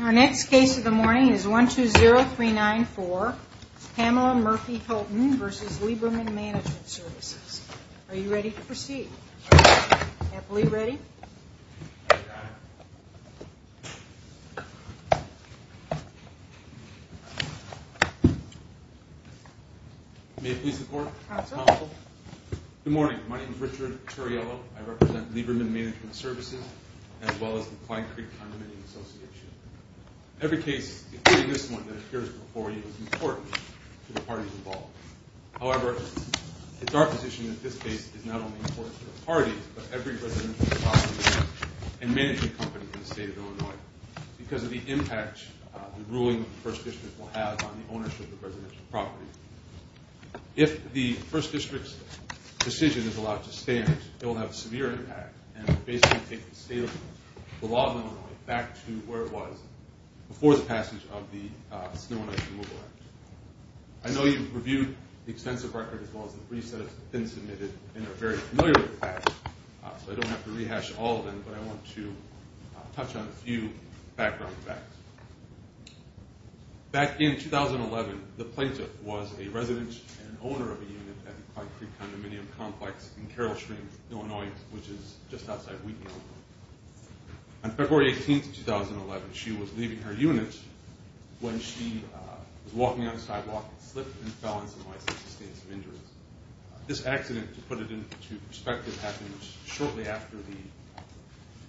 Our next case of the morning is 120394, Pamela Murphy-Hylton v. Lieberman Management Services. Are you ready to proceed? Happily ready? May I please have the floor? Council. Good morning. My name is Richard Torriello. I represent Lieberman Management Services, as well as the Clyde Creek Condominium Association. Every case, including this one that appears before you, is important to the parties involved. However, it's our position that this case is not only important to the parties, but every residential property and management company in the state of Illinois because of the impact the ruling of the First District will have on the ownership of residential property. If the First District's decision is allowed to stand, it will have a severe impact and will basically take the state of Illinois, the law of Illinois, back to where it was before the passage of the Snow and Ice Removal Act. I know you've reviewed the extensive record as well as the briefs that have been submitted and are very familiar with the facts, so I don't have to rehash all of them, but I want to touch on a few background facts. Back in 2011, the plaintiff was a resident and owner of a unit at the Clyde Creek Condominium complex in Carroll Springs, Illinois, which is just outside Wheaton, Illinois. On February 18th, 2011, she was leaving her unit when she was walking on the sidewalk and slipped and fell on some ice and sustained some injuries. This accident, to put it into perspective, happened shortly after the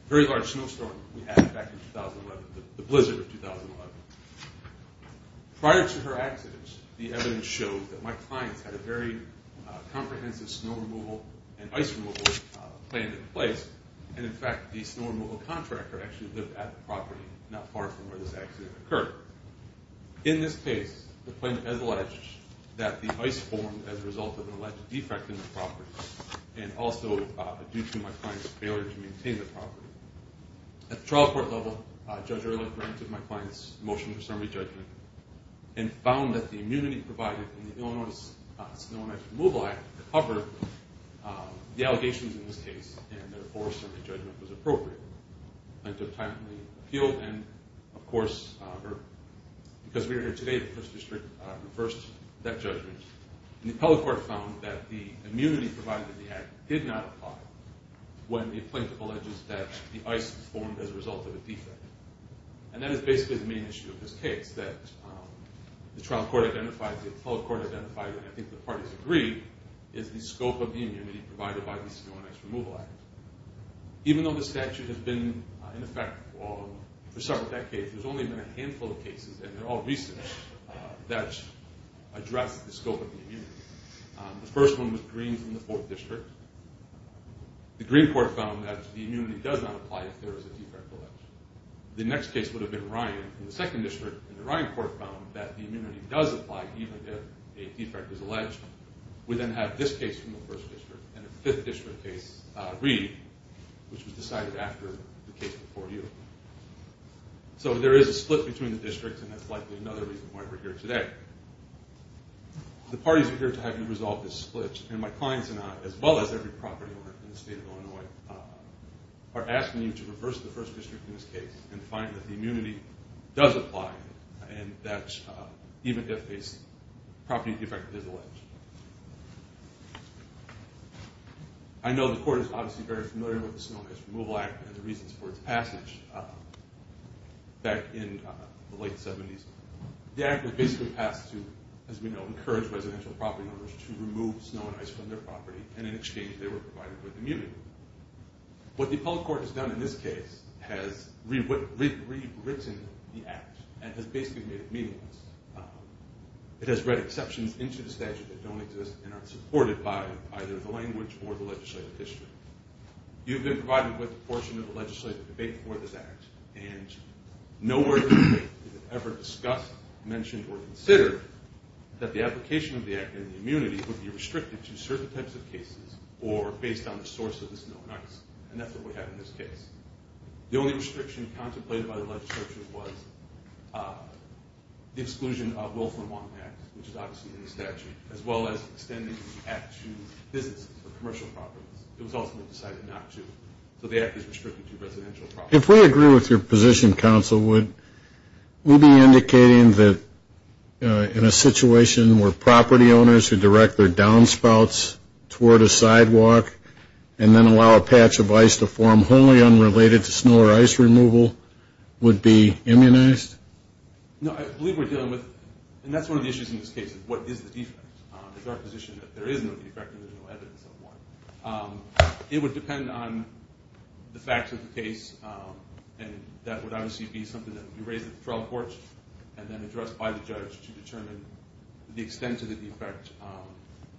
very large snowstorm we had back in 2011, the blizzard of 2011. Prior to her accident, the evidence showed that my clients had a very comprehensive snow removal and ice removal plan in place, and in fact, the snow removal contractor actually lived at the property not far from where this accident occurred. In this case, the plaintiff has alleged that the ice formed as a result of an alleged defect in the property and also due to my client's failure to maintain the property. At the trial court level, Judge Ehrlich granted my client's motion for summary judgment and found that the immunity provided in the Illinois Snow and Ice Removal Act covered the allegations in this case, and therefore, a summary judgment was appropriate. The plaintiff timely appealed, and of course, because we are here today, the District reversed that judgment. The appellate court found that the immunity provided in the act did not apply when the plaintiff alleges that the ice formed as a result of a defect. And that is basically the main issue of this case, that the trial court identified, the appellate court identified, and I think the parties agreed, is the scope of the immunity provided by the Illinois Snow and Ice Removal Act. Even though the statute has been in effect for several decades, there's only been a handful of cases, and they're all recent, that address the scope of the immunity. The first one was Green from the 4th District. The Green court found that the immunity does not apply if there is a defect alleged. The next case would have been Ryan from the 2nd District, and the Ryan court found that the immunity does apply even if a defect is alleged. We then have this case from the 1st District, and a 5th District case, Reed, which was decided after the case before you. So there is a split between the districts, and that's likely another reason why we're here today. The parties are here to have you resolve this split, and my clients and I, as well as every property owner in the state of Illinois, are asking you to reverse the 1st District in this case and find that the immunity does apply, and that even if a property defect is alleged. I know the court is obviously very familiar with the Snow and Ice Removal Act and the reasons for its passage back in the late 70s. The act would basically pass to, as we know, encourage residential property owners to remove snow and ice from their property, and in exchange they were provided with immunity. What the appellate court has done in this case has rewritten the act and has basically made it meaningless. It has read exceptions into the statute that don't exist and aren't supported by either the language or the legislative history. You've been provided with a portion of the legislative debate for this act, and nowhere in the debate has it ever discussed, mentioned, or considered that the application of the act and the immunity would be restricted to certain types of cases or based on the source of the snow and ice, and that's what we have in this case. The only restriction contemplated by the legislature was the exclusion of Wolfram-Wong Act, which is obviously in the statute, as well as extending the act to businesses or commercial properties. It was ultimately decided not to, so the act is restricted to residential properties. If we agree with your position, Counsel, would we be indicating that in a situation where property owners who direct their downspouts toward a sidewalk and then allow a patch of ice to form wholly unrelated to snow or ice removal would be immunized? No, I believe we're dealing with, and that's one of the issues in this case, is what is the defect. It's our position that there is no defect and there's no evidence of one. It would depend on the facts of the case, and that would obviously be something that would be raised at the trial courts and then addressed by the judge to determine the extent of the defect.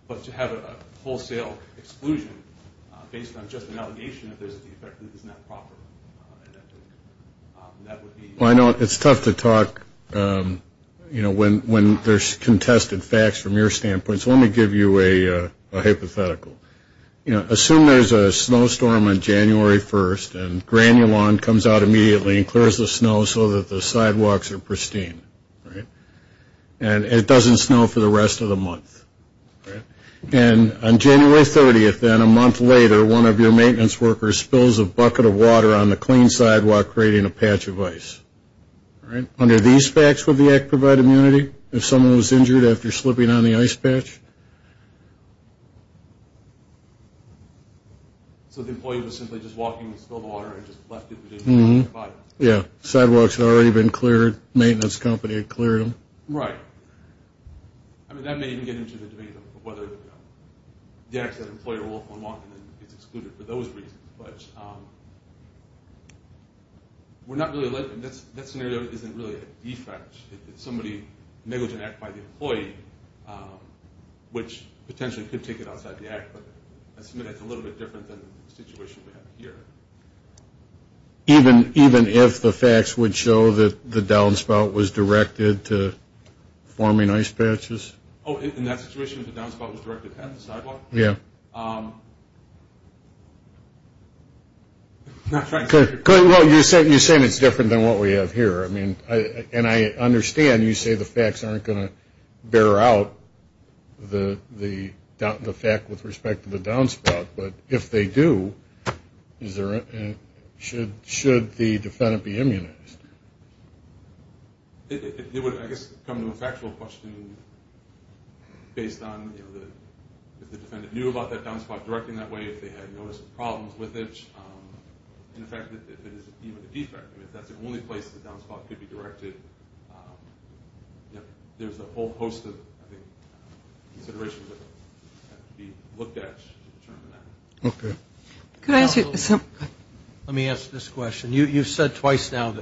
But to have a wholesale exclusion based on just an allegation that there's a defect that is not proper, I don't think that would be. Well, I know it's tough to talk when there's contested facts from your standpoint, so let me give you a hypothetical. Assume there's a snowstorm on January 1st and granular lawn comes out immediately and clears the snow so that the sidewalks are pristine, and it doesn't snow for the rest of the month. And on January 30th, then, a month later, one of your maintenance workers spills a bucket of water on the clean sidewalk, creating a patch of ice. Under these facts, would the act provide immunity if someone was injured after slipping on the ice patch? So the employee was simply just walking and spilled the water and just left it to do what it needed to do? Yeah. Sidewalks had already been cleared. Maintenance company had cleared them. Right. I mean, that may even get into the debate of whether the act that an employee will walk on is excluded for those reasons. But that scenario isn't really a defect. It's somebody negligent act by the employee, which potentially could take it outside the act, but I submit it's a little bit different than the situation we have here. Even if the facts would show that the downspout was directed to forming ice patches? Oh, in that situation, if the downspout was directed at the sidewalk? Yeah. Well, you're saying it's different than what we have here. I mean, and I understand you say the facts aren't going to bear out the fact with respect to the downspout, but if they do, should the defendant be immunized? It would, I guess, come to a factual question based on, you know, if the defendant knew about that downspout directing that way, if they had noticed problems with it. In fact, if it is even a defect, if that's the only place the downspout could be directed, there's a whole host of considerations that have to be looked at to determine that. Okay. Let me ask this question. You've said twice now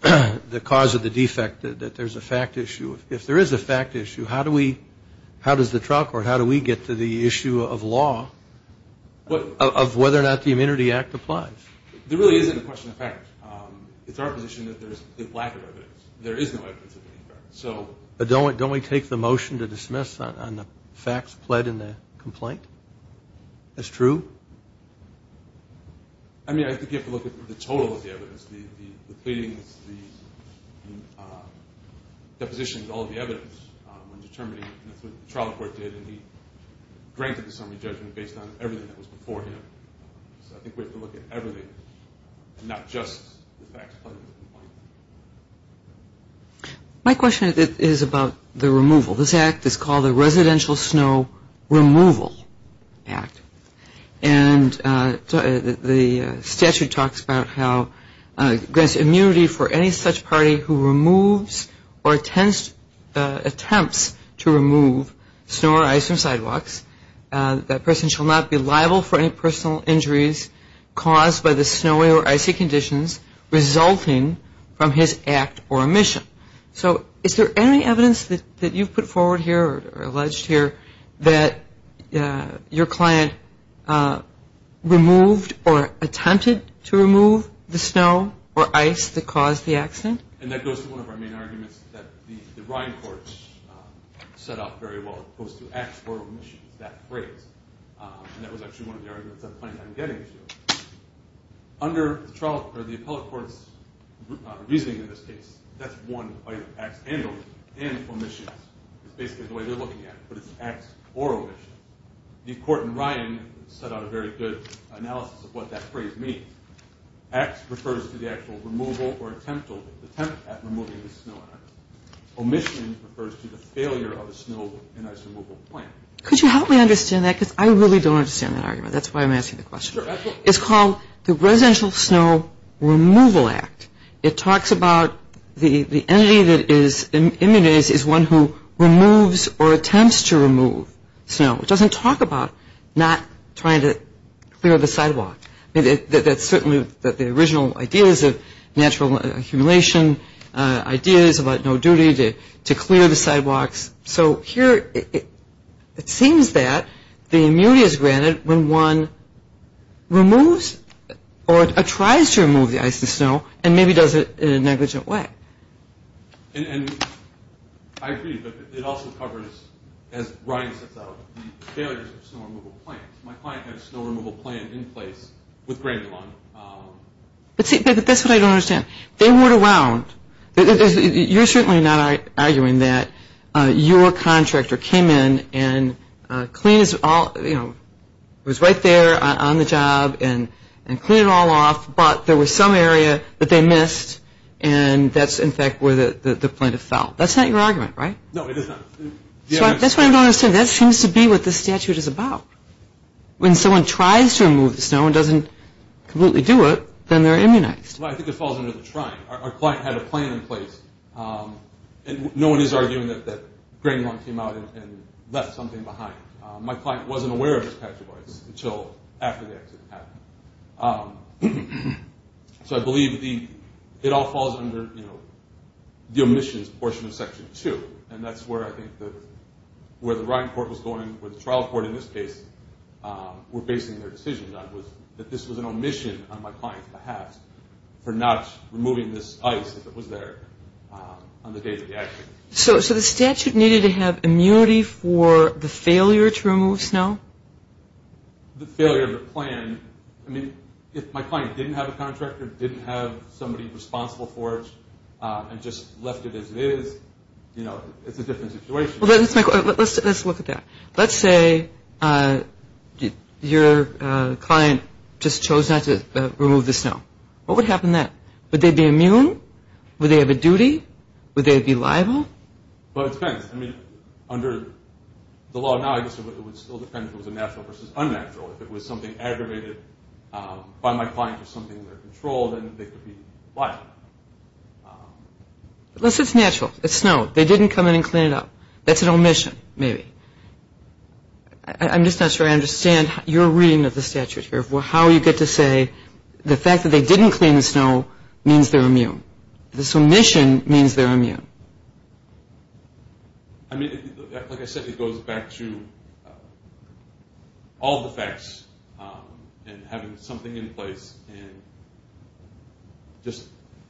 that the cause of the defect, that there's a fact issue. If there is a fact issue, how does the trial court, how do we get to the issue of law of whether or not the Immunity Act applies? There really isn't a question of fact. It's our position that there's a lack of evidence. There is no evidence of any fact. But don't we take the motion to dismiss on the facts pled in the complaint? That's true? I mean, I think you have to look at the total of the evidence, the pleadings, the depositions, all the evidence when determining that's what the trial court did and he granted the summary judgment based on everything that was before him. So I think we have to look at everything and not just the facts pled in the complaint. My question is about the removal. This act is called the Residential Snow Removal Act. And the statute talks about how it grants immunity for any such party who removes or attempts to remove snow or ice from sidewalks. That person shall not be liable for any personal injuries caused by the snowy or icy conditions resulting from his act or omission. So is there any evidence that you've put forward here or alleged here that your client removed or attempted to remove the snow or ice that caused the accident? And that goes to one of our main arguments that the Ryan Court set up very well. It goes to act or omission. It's that phrase. And that was actually one of the arguments that the plaintiff was getting to. Under the appellate court's reasoning in this case, that's one of the acts and omissions. It's basically the way they're looking at it, but it's acts or omissions. The court in Ryan set out a very good analysis of what that phrase means. Acts refers to the actual removal or attempt at removing the snow and ice. Omissions refers to the failure of the snow and ice removal plan. Could you help me understand that? Because I really don't understand that argument. That's why I'm asking the question. It's called the Residential Snow Removal Act. It talks about the entity that is immunized is one who removes or attempts to remove snow. It doesn't talk about not trying to clear the sidewalk. That's certainly the original ideas of natural humiliation, ideas about no duty to clear the sidewalks. So here it seems that the immunity is granted when one removes or tries to remove the ice and snow and maybe does it in a negligent way. And I agree, but it also covers, as Ryan sets out, the failures of snow removal plans. My client had a snow removal plan in place with Grandelon. But see, that's what I don't understand. They weren't around. You're certainly not arguing that your contractor came in and cleaned it all, you know, was right there on the job and cleaned it all off, but there was some area that they missed and that's, in fact, where the plaintiff fell. That's not your argument, right? No, it is not. That's what I'm trying to understand. That seems to be what this statute is about. When someone tries to remove the snow and doesn't completely do it, then they're immunized. Well, I think it falls under the trying. Our client had a plan in place. And no one is arguing that Grandelon came out and left something behind. My client wasn't aware of this patch of ice until after the accident happened. So I believe it all falls under the omissions portion of Section 2, and that's where I think where the Ryan court was going, where the trial court in this case were basing their decision on, that this was an omission on my client's behalf for not removing this ice if it was there on the day of the accident. So the statute needed to have immunity for the failure to remove snow? The failure of the plan, I mean, if my client didn't have a contractor, didn't have somebody responsible for it, and just left it as it is, you know, it's a different situation. Let's look at that. Let's say your client just chose not to remove the snow. What would happen then? Would they be immune? Would they have a duty? Would they be liable? Well, it depends. I mean, under the law now, I guess it would still depend if it was a natural versus unnatural. If it was something aggravated by my client or something under control, then they could be liable. Unless it's natural. It's snow. They didn't come in and clean it up. That's an omission, maybe. I'm just not sure I understand your reading of the statute here. How you get to say the fact that they didn't clean the snow means they're immune. This omission means they're immune. I mean, like I said, it goes back to all the facts and having something in place and just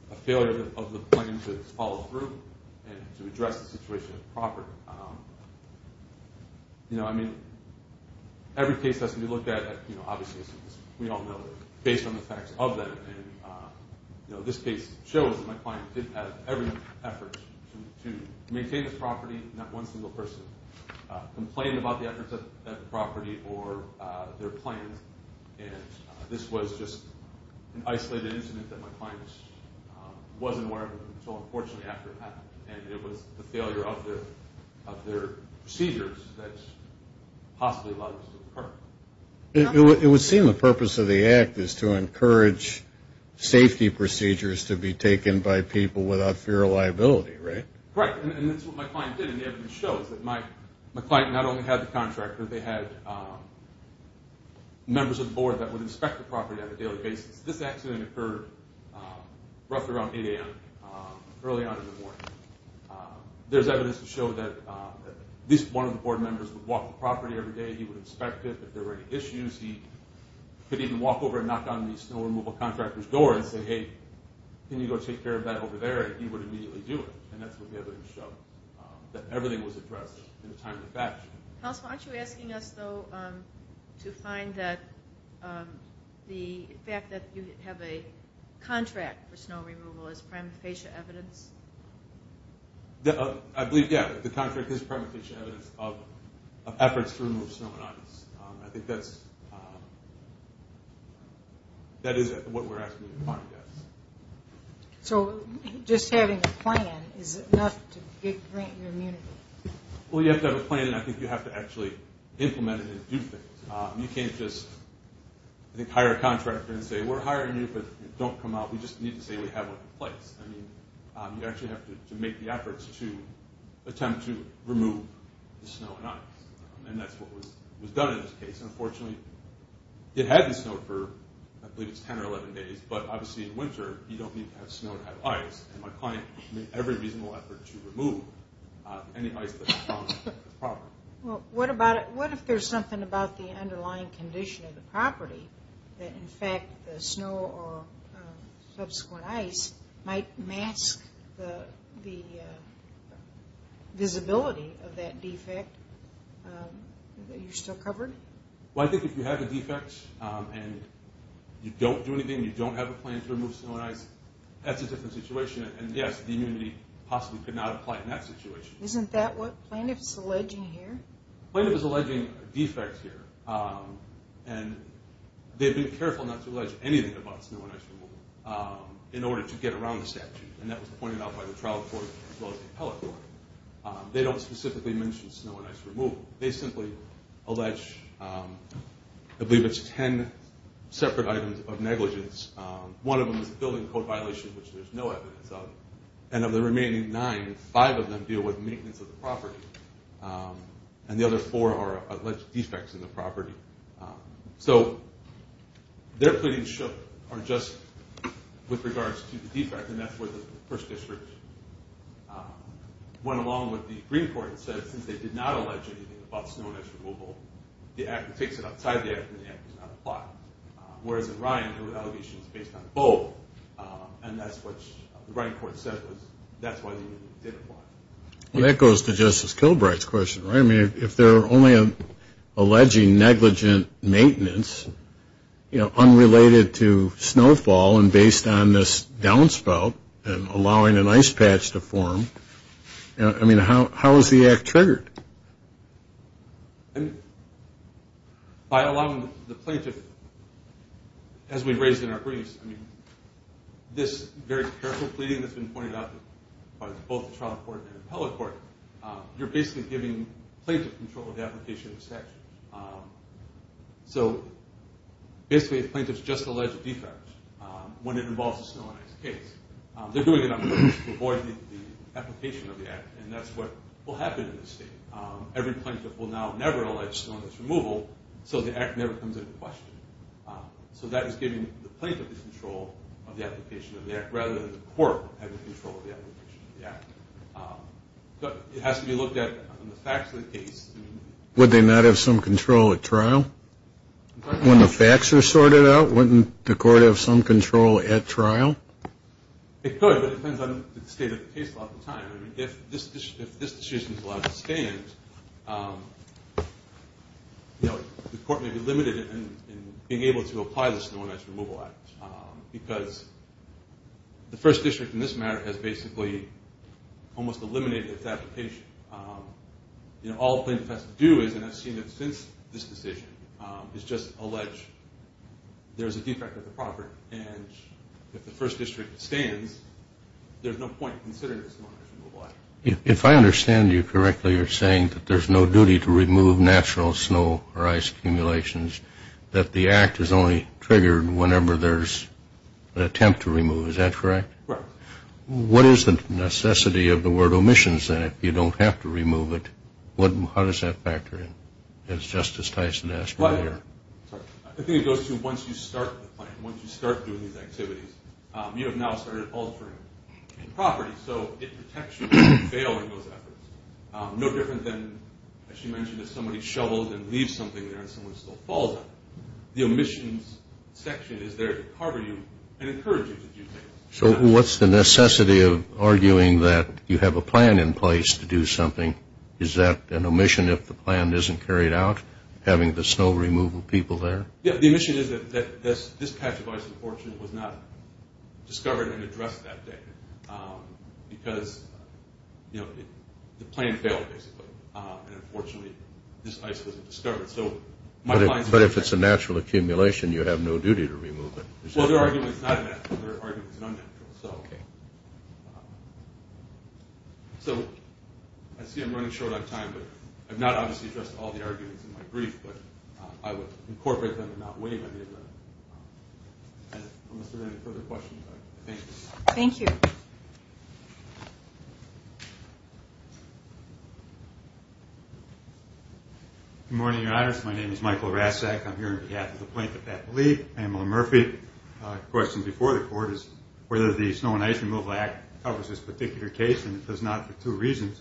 a failure of the plan to follow through and to address the situation properly. I mean, every case has to be looked at, obviously, as we all know, based on the facts of them. This case shows that my client did have every effort to maintain this property. Not one single person complained about the efforts at the property or their plans. This was just an isolated incident that my client wasn't aware of until unfortunately after it happened, and it was the failure of their procedures that possibly led this to occur. It would seem the purpose of the Act is to encourage safety procedures to be taken by people without fear of liability, right? Correct, and that's what my client did, and it shows that my client not only had the contractor, they had members of the board that would inspect the property on a daily basis. This accident occurred roughly around 8 a.m. early on in the morning. There's evidence to show that at least one of the board members would walk the property every day. He would inspect it. If there were any issues, he could even walk over and knock on the snow removal contractor's door and say, hey, can you go take care of that over there, and he would immediately do it, and that's what the evidence showed, that everything was addressed in a timely fashion. Councilman, aren't you asking us, though, to find that the fact that you have a contract for snow removal is prima facie evidence? I believe, yeah, the contract is prima facie evidence of efforts to remove snow and ice. I think that is what we're asking you to find, yes. So just having a plan is enough to grant you immunity? Well, you have to have a plan, and I think you have to actually implement it and do things. You can't just, I think, hire a contractor and say, we're hiring you, but don't come out. We just need to say we have a place. I mean, you actually have to make the efforts to attempt to remove the snow and ice, and that's what was done in this case. Unfortunately, it hadn't snowed for, I believe it's 10 or 11 days, but obviously in winter, you don't need to have snow to have ice, and my client made every reasonable effort to remove any ice that was found on the property. Well, what if there's something about the underlying condition of the property that, in fact, the snow or subsequent ice might mask the visibility of that defect that you still covered? Well, I think if you have a defect and you don't do anything, you don't have a plan to remove snow and ice, that's a different situation, and yes, the immunity possibly could not apply in that situation. Isn't that what plaintiff is alleging here? Plaintiff is alleging a defect here, and they've been careful not to allege anything about snow and ice removal in order to get around the statute, and that was pointed out by the trial court as well as the appellate court. They don't specifically mention snow and ice removal. They simply allege, I believe it's 10 separate items of negligence. One of them is a building code violation, which there's no evidence of, and of the remaining nine, five of them deal with maintenance of the property, and the other four are alleged defects in the property. So their pleadings are just with regards to the defect, and that's where the First District went along with the Green Court and said since they did not allege anything about snow and ice removal, the act that takes it outside the act does not apply, whereas in Ryan, the allegation is based on both, and that's what the writing court said was that's why the immunity didn't apply. Well, that goes to Justice Kilbright's question, right? I mean, if they're only alleging negligent maintenance, you know, unrelated to snowfall and based on this downspout and allowing an ice patch to form, I mean, how is the act triggered? By allowing the plaintiff, as we raised in our briefs, I mean this very careful pleading that's been pointed out by both the trial court and the appellate court, you're basically giving plaintiff control of the application of the statute. So basically if a plaintiff's just alleged a defect when it involves a snow and ice case, they're doing it on purpose to avoid the application of the act, and that's what will happen in this state. Every plaintiff will now never allege snow and ice removal, so the act never comes into question. So that is giving the plaintiff the control of the application of the act rather than the court having control of the application of the act. But it has to be looked at in the facts of the case. Would they not have some control at trial? When the facts are sorted out, wouldn't the court have some control at trial? It could, but it depends on the state of the case a lot of the time. I mean, if this decision is allowed to stand, you know, the court may be limited in being able to apply the Snow and Ice Removal Act because the first district in this matter has basically almost eliminated its application. You know, all a plaintiff has to do is, and I've seen it since this decision, is just allege there's a defect at the property, and if the first district stands, there's no point in considering the Snow and Ice Removal Act. If I understand you correctly, you're saying that there's no duty to remove natural snow or ice accumulations, that the act is only triggered whenever there's an attempt to remove. Is that correct? Right. What is the necessity of the word omissions, then, if you don't have to remove it? How does that factor in, as Justice Tyson asked earlier? I think it goes to once you start the plan, once you start doing these activities, you have now started altering the property, so it protects you from failing those efforts. No different than, as you mentioned, if somebody shovels and leaves something there and someone still falls on it. The omissions section is there to cover you and encourage you to do things. So what's the necessity of arguing that you have a plan in place to do something? Is that an omission if the plan isn't carried out, having the snow removal people there? Yeah, the omission is that this patch of ice, unfortunately, was not discovered and addressed that day because the plan failed, basically, and, unfortunately, this ice wasn't discovered. But if it's a natural accumulation, you have no duty to remove it. Well, their argument is not a natural. Their argument is an unnatural. Okay. So I see I'm running short on time, but I've not, obviously, addressed all the arguments in my brief, but I would incorporate them and not waive any of them. Unless there are any further questions, I thank you. Thank you. Good morning, Your Honors. My name is Michael Raszak. I'm here on behalf of the plaintiff, Pat Malee, Pamela Murphy. The question before the Court is whether the Snow and Ice Removal Act covers this particular case, and it does not for two reasons.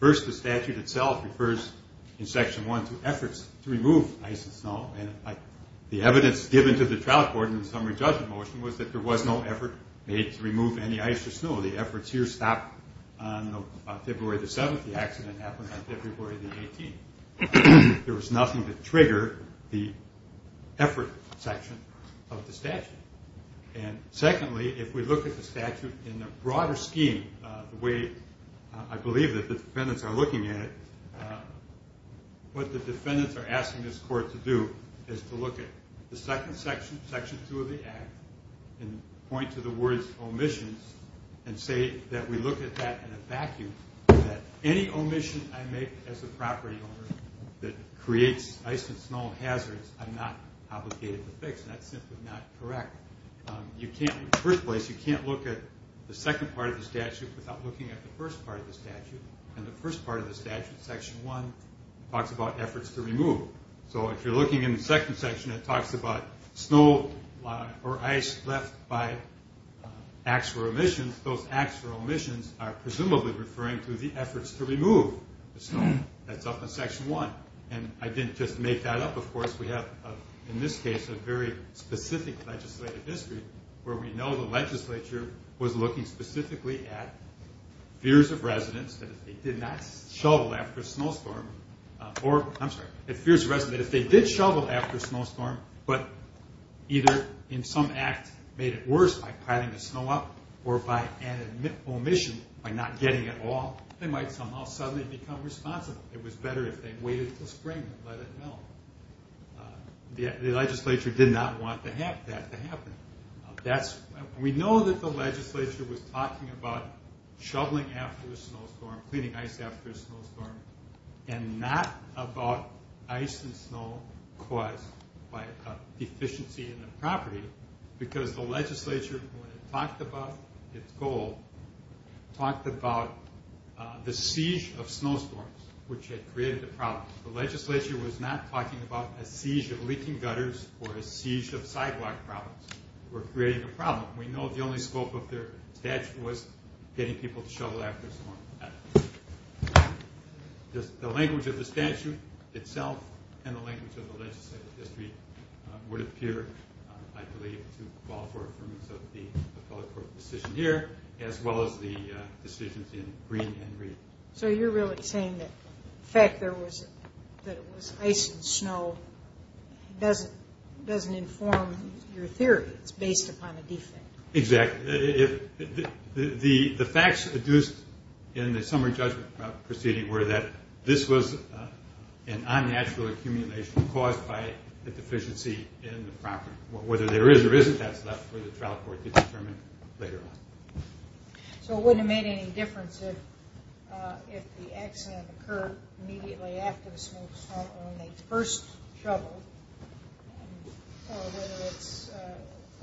First, the statute itself refers in Section 1 to efforts to remove ice and snow, and the evidence given to the trial court in the summary judgment motion was that there was no effort made to remove any ice or snow. The efforts here stopped on February the 7th. The accident happened on February the 18th. There was nothing to trigger the effort section of the statute. And secondly, if we look at the statute in a broader scheme, the way I believe that the defendants are looking at it, what the defendants are asking this Court to do is to look at the second section, Section 2 of the Act, and point to the words, omissions, and say that we look at that in a vacuum, that any omission I make as a property owner that creates ice and snow hazards, I'm not obligated to fix, and that's simply not correct. In the first place, you can't look at the second part of the statute without looking at the first part of the statute, and the first part of the statute, Section 1, talks about efforts to remove. So if you're looking in the second section, it talks about snow or ice left by acts for omissions. And those acts for omissions are presumably referring to the efforts to remove the snow. That's up in Section 1. And I didn't just make that up. Of course, we have, in this case, a very specific legislative history where we know the legislature was looking specifically at fears of residents that if they did not shovel after a snowstorm, or, I'm sorry, if fears of residents, if they did shovel after a snowstorm, but either in some act made it worse by piling the snow up or by an omission by not getting it all, they might somehow suddenly become responsible. It was better if they waited until spring and let it melt. The legislature did not want that to happen. We know that the legislature was talking about shoveling after a snowstorm, and not about ice and snow caused by a deficiency in the property, because the legislature, when it talked about its goal, talked about the siege of snowstorms, which had created a problem. The legislature was not talking about a siege of leaking gutters or a siege of sidewalk problems. We're creating a problem. We know the only scope of their statute was getting people to shovel after a storm. The language of the statute itself and the language of the legislative history would appear, I believe, to fall for the affiliate court's decision here, as well as the decisions in Green and Reed. So you're really saying that the fact that it was ice and snow doesn't inform your theory. It's based upon a defect. Exactly. The facts adduced in the summer judgment proceeding were that this was an unnatural accumulation caused by a deficiency in the property, whether there is or isn't that stuff for the trial court to determine later on. So it wouldn't have made any difference if the accident occurred immediately after the snowstorm or when they first shoveled or whether it's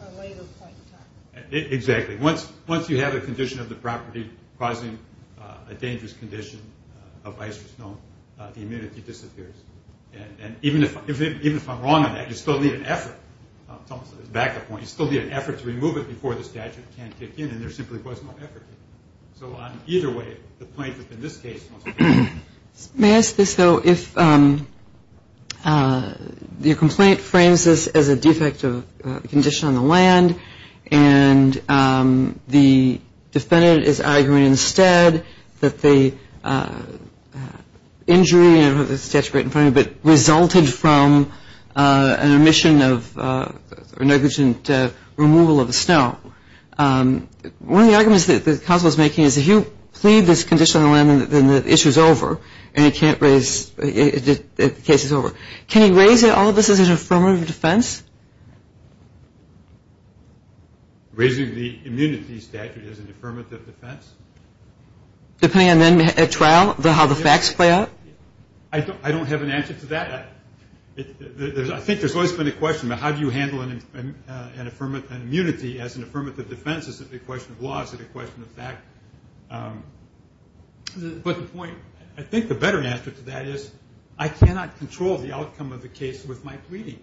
a later point in time. Exactly. Once you have a condition of the property causing a dangerous condition of ice or snow, the immunity disappears. And even if I'm wrong on that, you still need an effort. Back up one. You still need an effort to remove it before the statute can kick in, and there simply was no effort. So either way, the plaintiff in this case was wrong. May I ask this, though? If your complaint frames this as a defective condition on the land and the defendant is arguing instead that the injury resulted from an omission or negligent removal of the snow, one of the arguments that the counsel is making is if you plead this condition on the land, then the issue is over and the case is over. Can you raise all of this as an affirmative defense? Raising the immunity statute as an affirmative defense? Depending on then at trial how the facts play out? I don't have an answer to that. I think there's always been a question about how do you handle an immunity as an affirmative defense? Is it a question of law? Is it a question of fact? But the point, I think the better answer to that is I cannot control the outcome of the case with my pleading.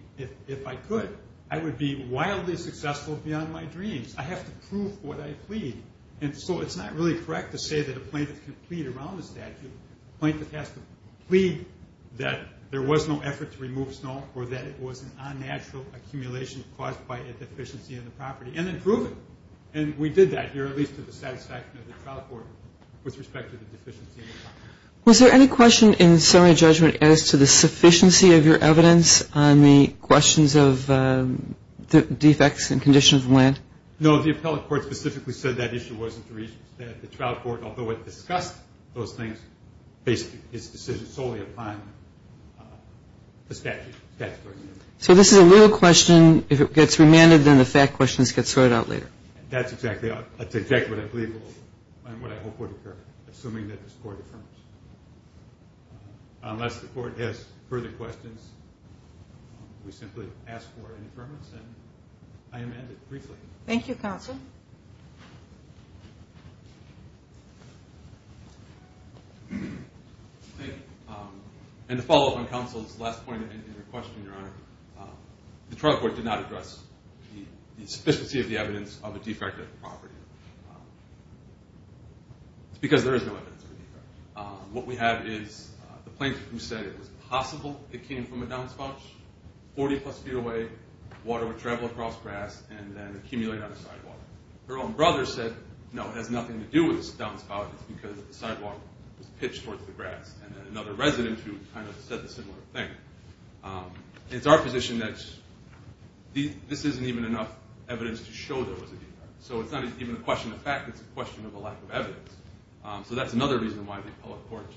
If I could, I would be wildly successful beyond my dreams. I have to prove what I plead. And so it's not really correct to say that a plaintiff can plead around a statute. A plaintiff has to plead that there was no effort to remove snow or that it was an unnatural accumulation caused by a deficiency in the property and then prove it. And we did that here, at least to the satisfaction of the trial court with respect to the deficiency. Was there any question in summary judgment as to the sufficiency of your evidence on the questions of defects and conditions of land? No, the appellate court specifically said that issue wasn't to reach the trial court, although it discussed those things based its decision solely upon the statute. So this is a real question. If it gets remanded, then the fact questions get sorted out later. That's exactly what I believe will and what I hope will occur, assuming that this court affirms. Unless the court has further questions, we simply ask for an affirmation. I amend it briefly. Thank you, counsel. Thank you. And to follow up on counsel's last point in your question, Your Honor, the trial court did not address the sufficiency of the evidence of a defective property. It's because there is no evidence of a defect. What we have is the plaintiff who said it was possible it came from a downspout 40-plus feet away, water would travel across grass, and then accumulate on the sidewalk. Her own brother said, no, it has nothing to do with the downspout. It's because the sidewalk was pitched towards the grass. And then another resident who kind of said a similar thing. It's our position that this isn't even enough evidence to show there was a defect. So it's not even a question of fact. It's a question of a lack of evidence. So that's another reason why the appellate court's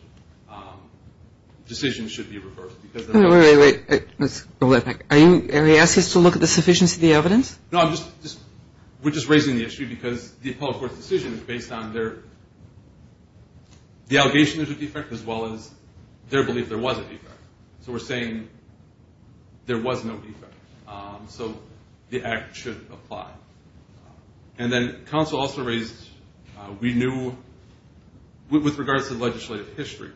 decision should be reversed. Wait, wait, wait. Let's roll that back. Are you asking us to look at the sufficiency of the evidence? No, we're just raising the issue because the appellate court's decision is based on their, the allegation there's a defect as well as their belief there was a defect. So we're saying there was no defect. So the act should apply. And then counsel also raised we knew, with regards to legislative history,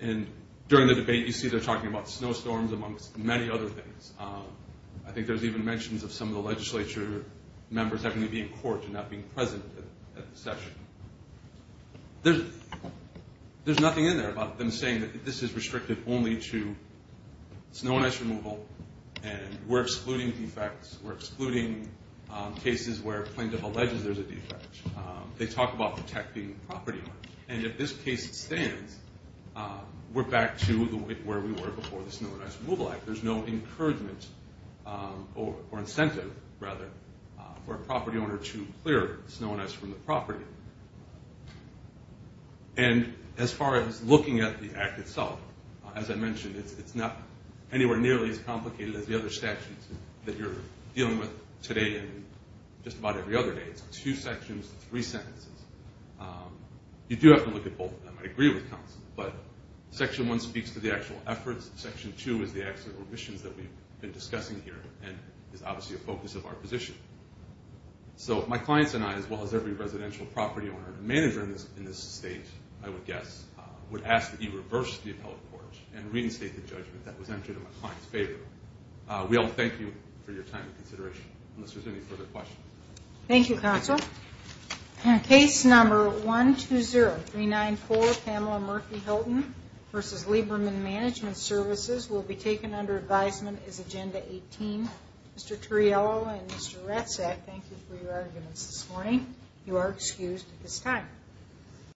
and during the debate you see they're talking about snowstorms amongst many other things. I think there's even mentions of some of the legislature members having to be in court and not being present at the session. There's nothing in there about them saying that this is restricted only to snow and ice removal and we're excluding defects. We're excluding cases where plaintiff alleges there's a defect. They talk about protecting property. And if this case stands, we're back to where we were before the Snow and Ice Removal Act. There's no encouragement or incentive, rather, for a property owner to clear snow and ice from the property. And as far as looking at the act itself, as I mentioned, it's not anywhere nearly as complicated as the other statutes that you're dealing with today and just about every other day. It's two sections, three sentences. You do have to look at both of them. I agree with counsel. But Section 1 speaks to the actual efforts. Section 2 is the actual remissions that we've been discussing here and is obviously a focus of our position. So my clients and I, as well as every residential property owner and manager in this state, I would guess, would ask that you reverse the appellate court and reinstate the judgment that was entered in my client's favor. We all thank you for your time and consideration, unless there's any further questions. Thank you, counsel. Case number 120394, Pamela Murphy Hilton v. Lieberman Management Services, will be taken under advisement as Agenda 18. Mr. Turriello and Mr. Ratzak, thank you for your arguments this morning. You are excused at this time.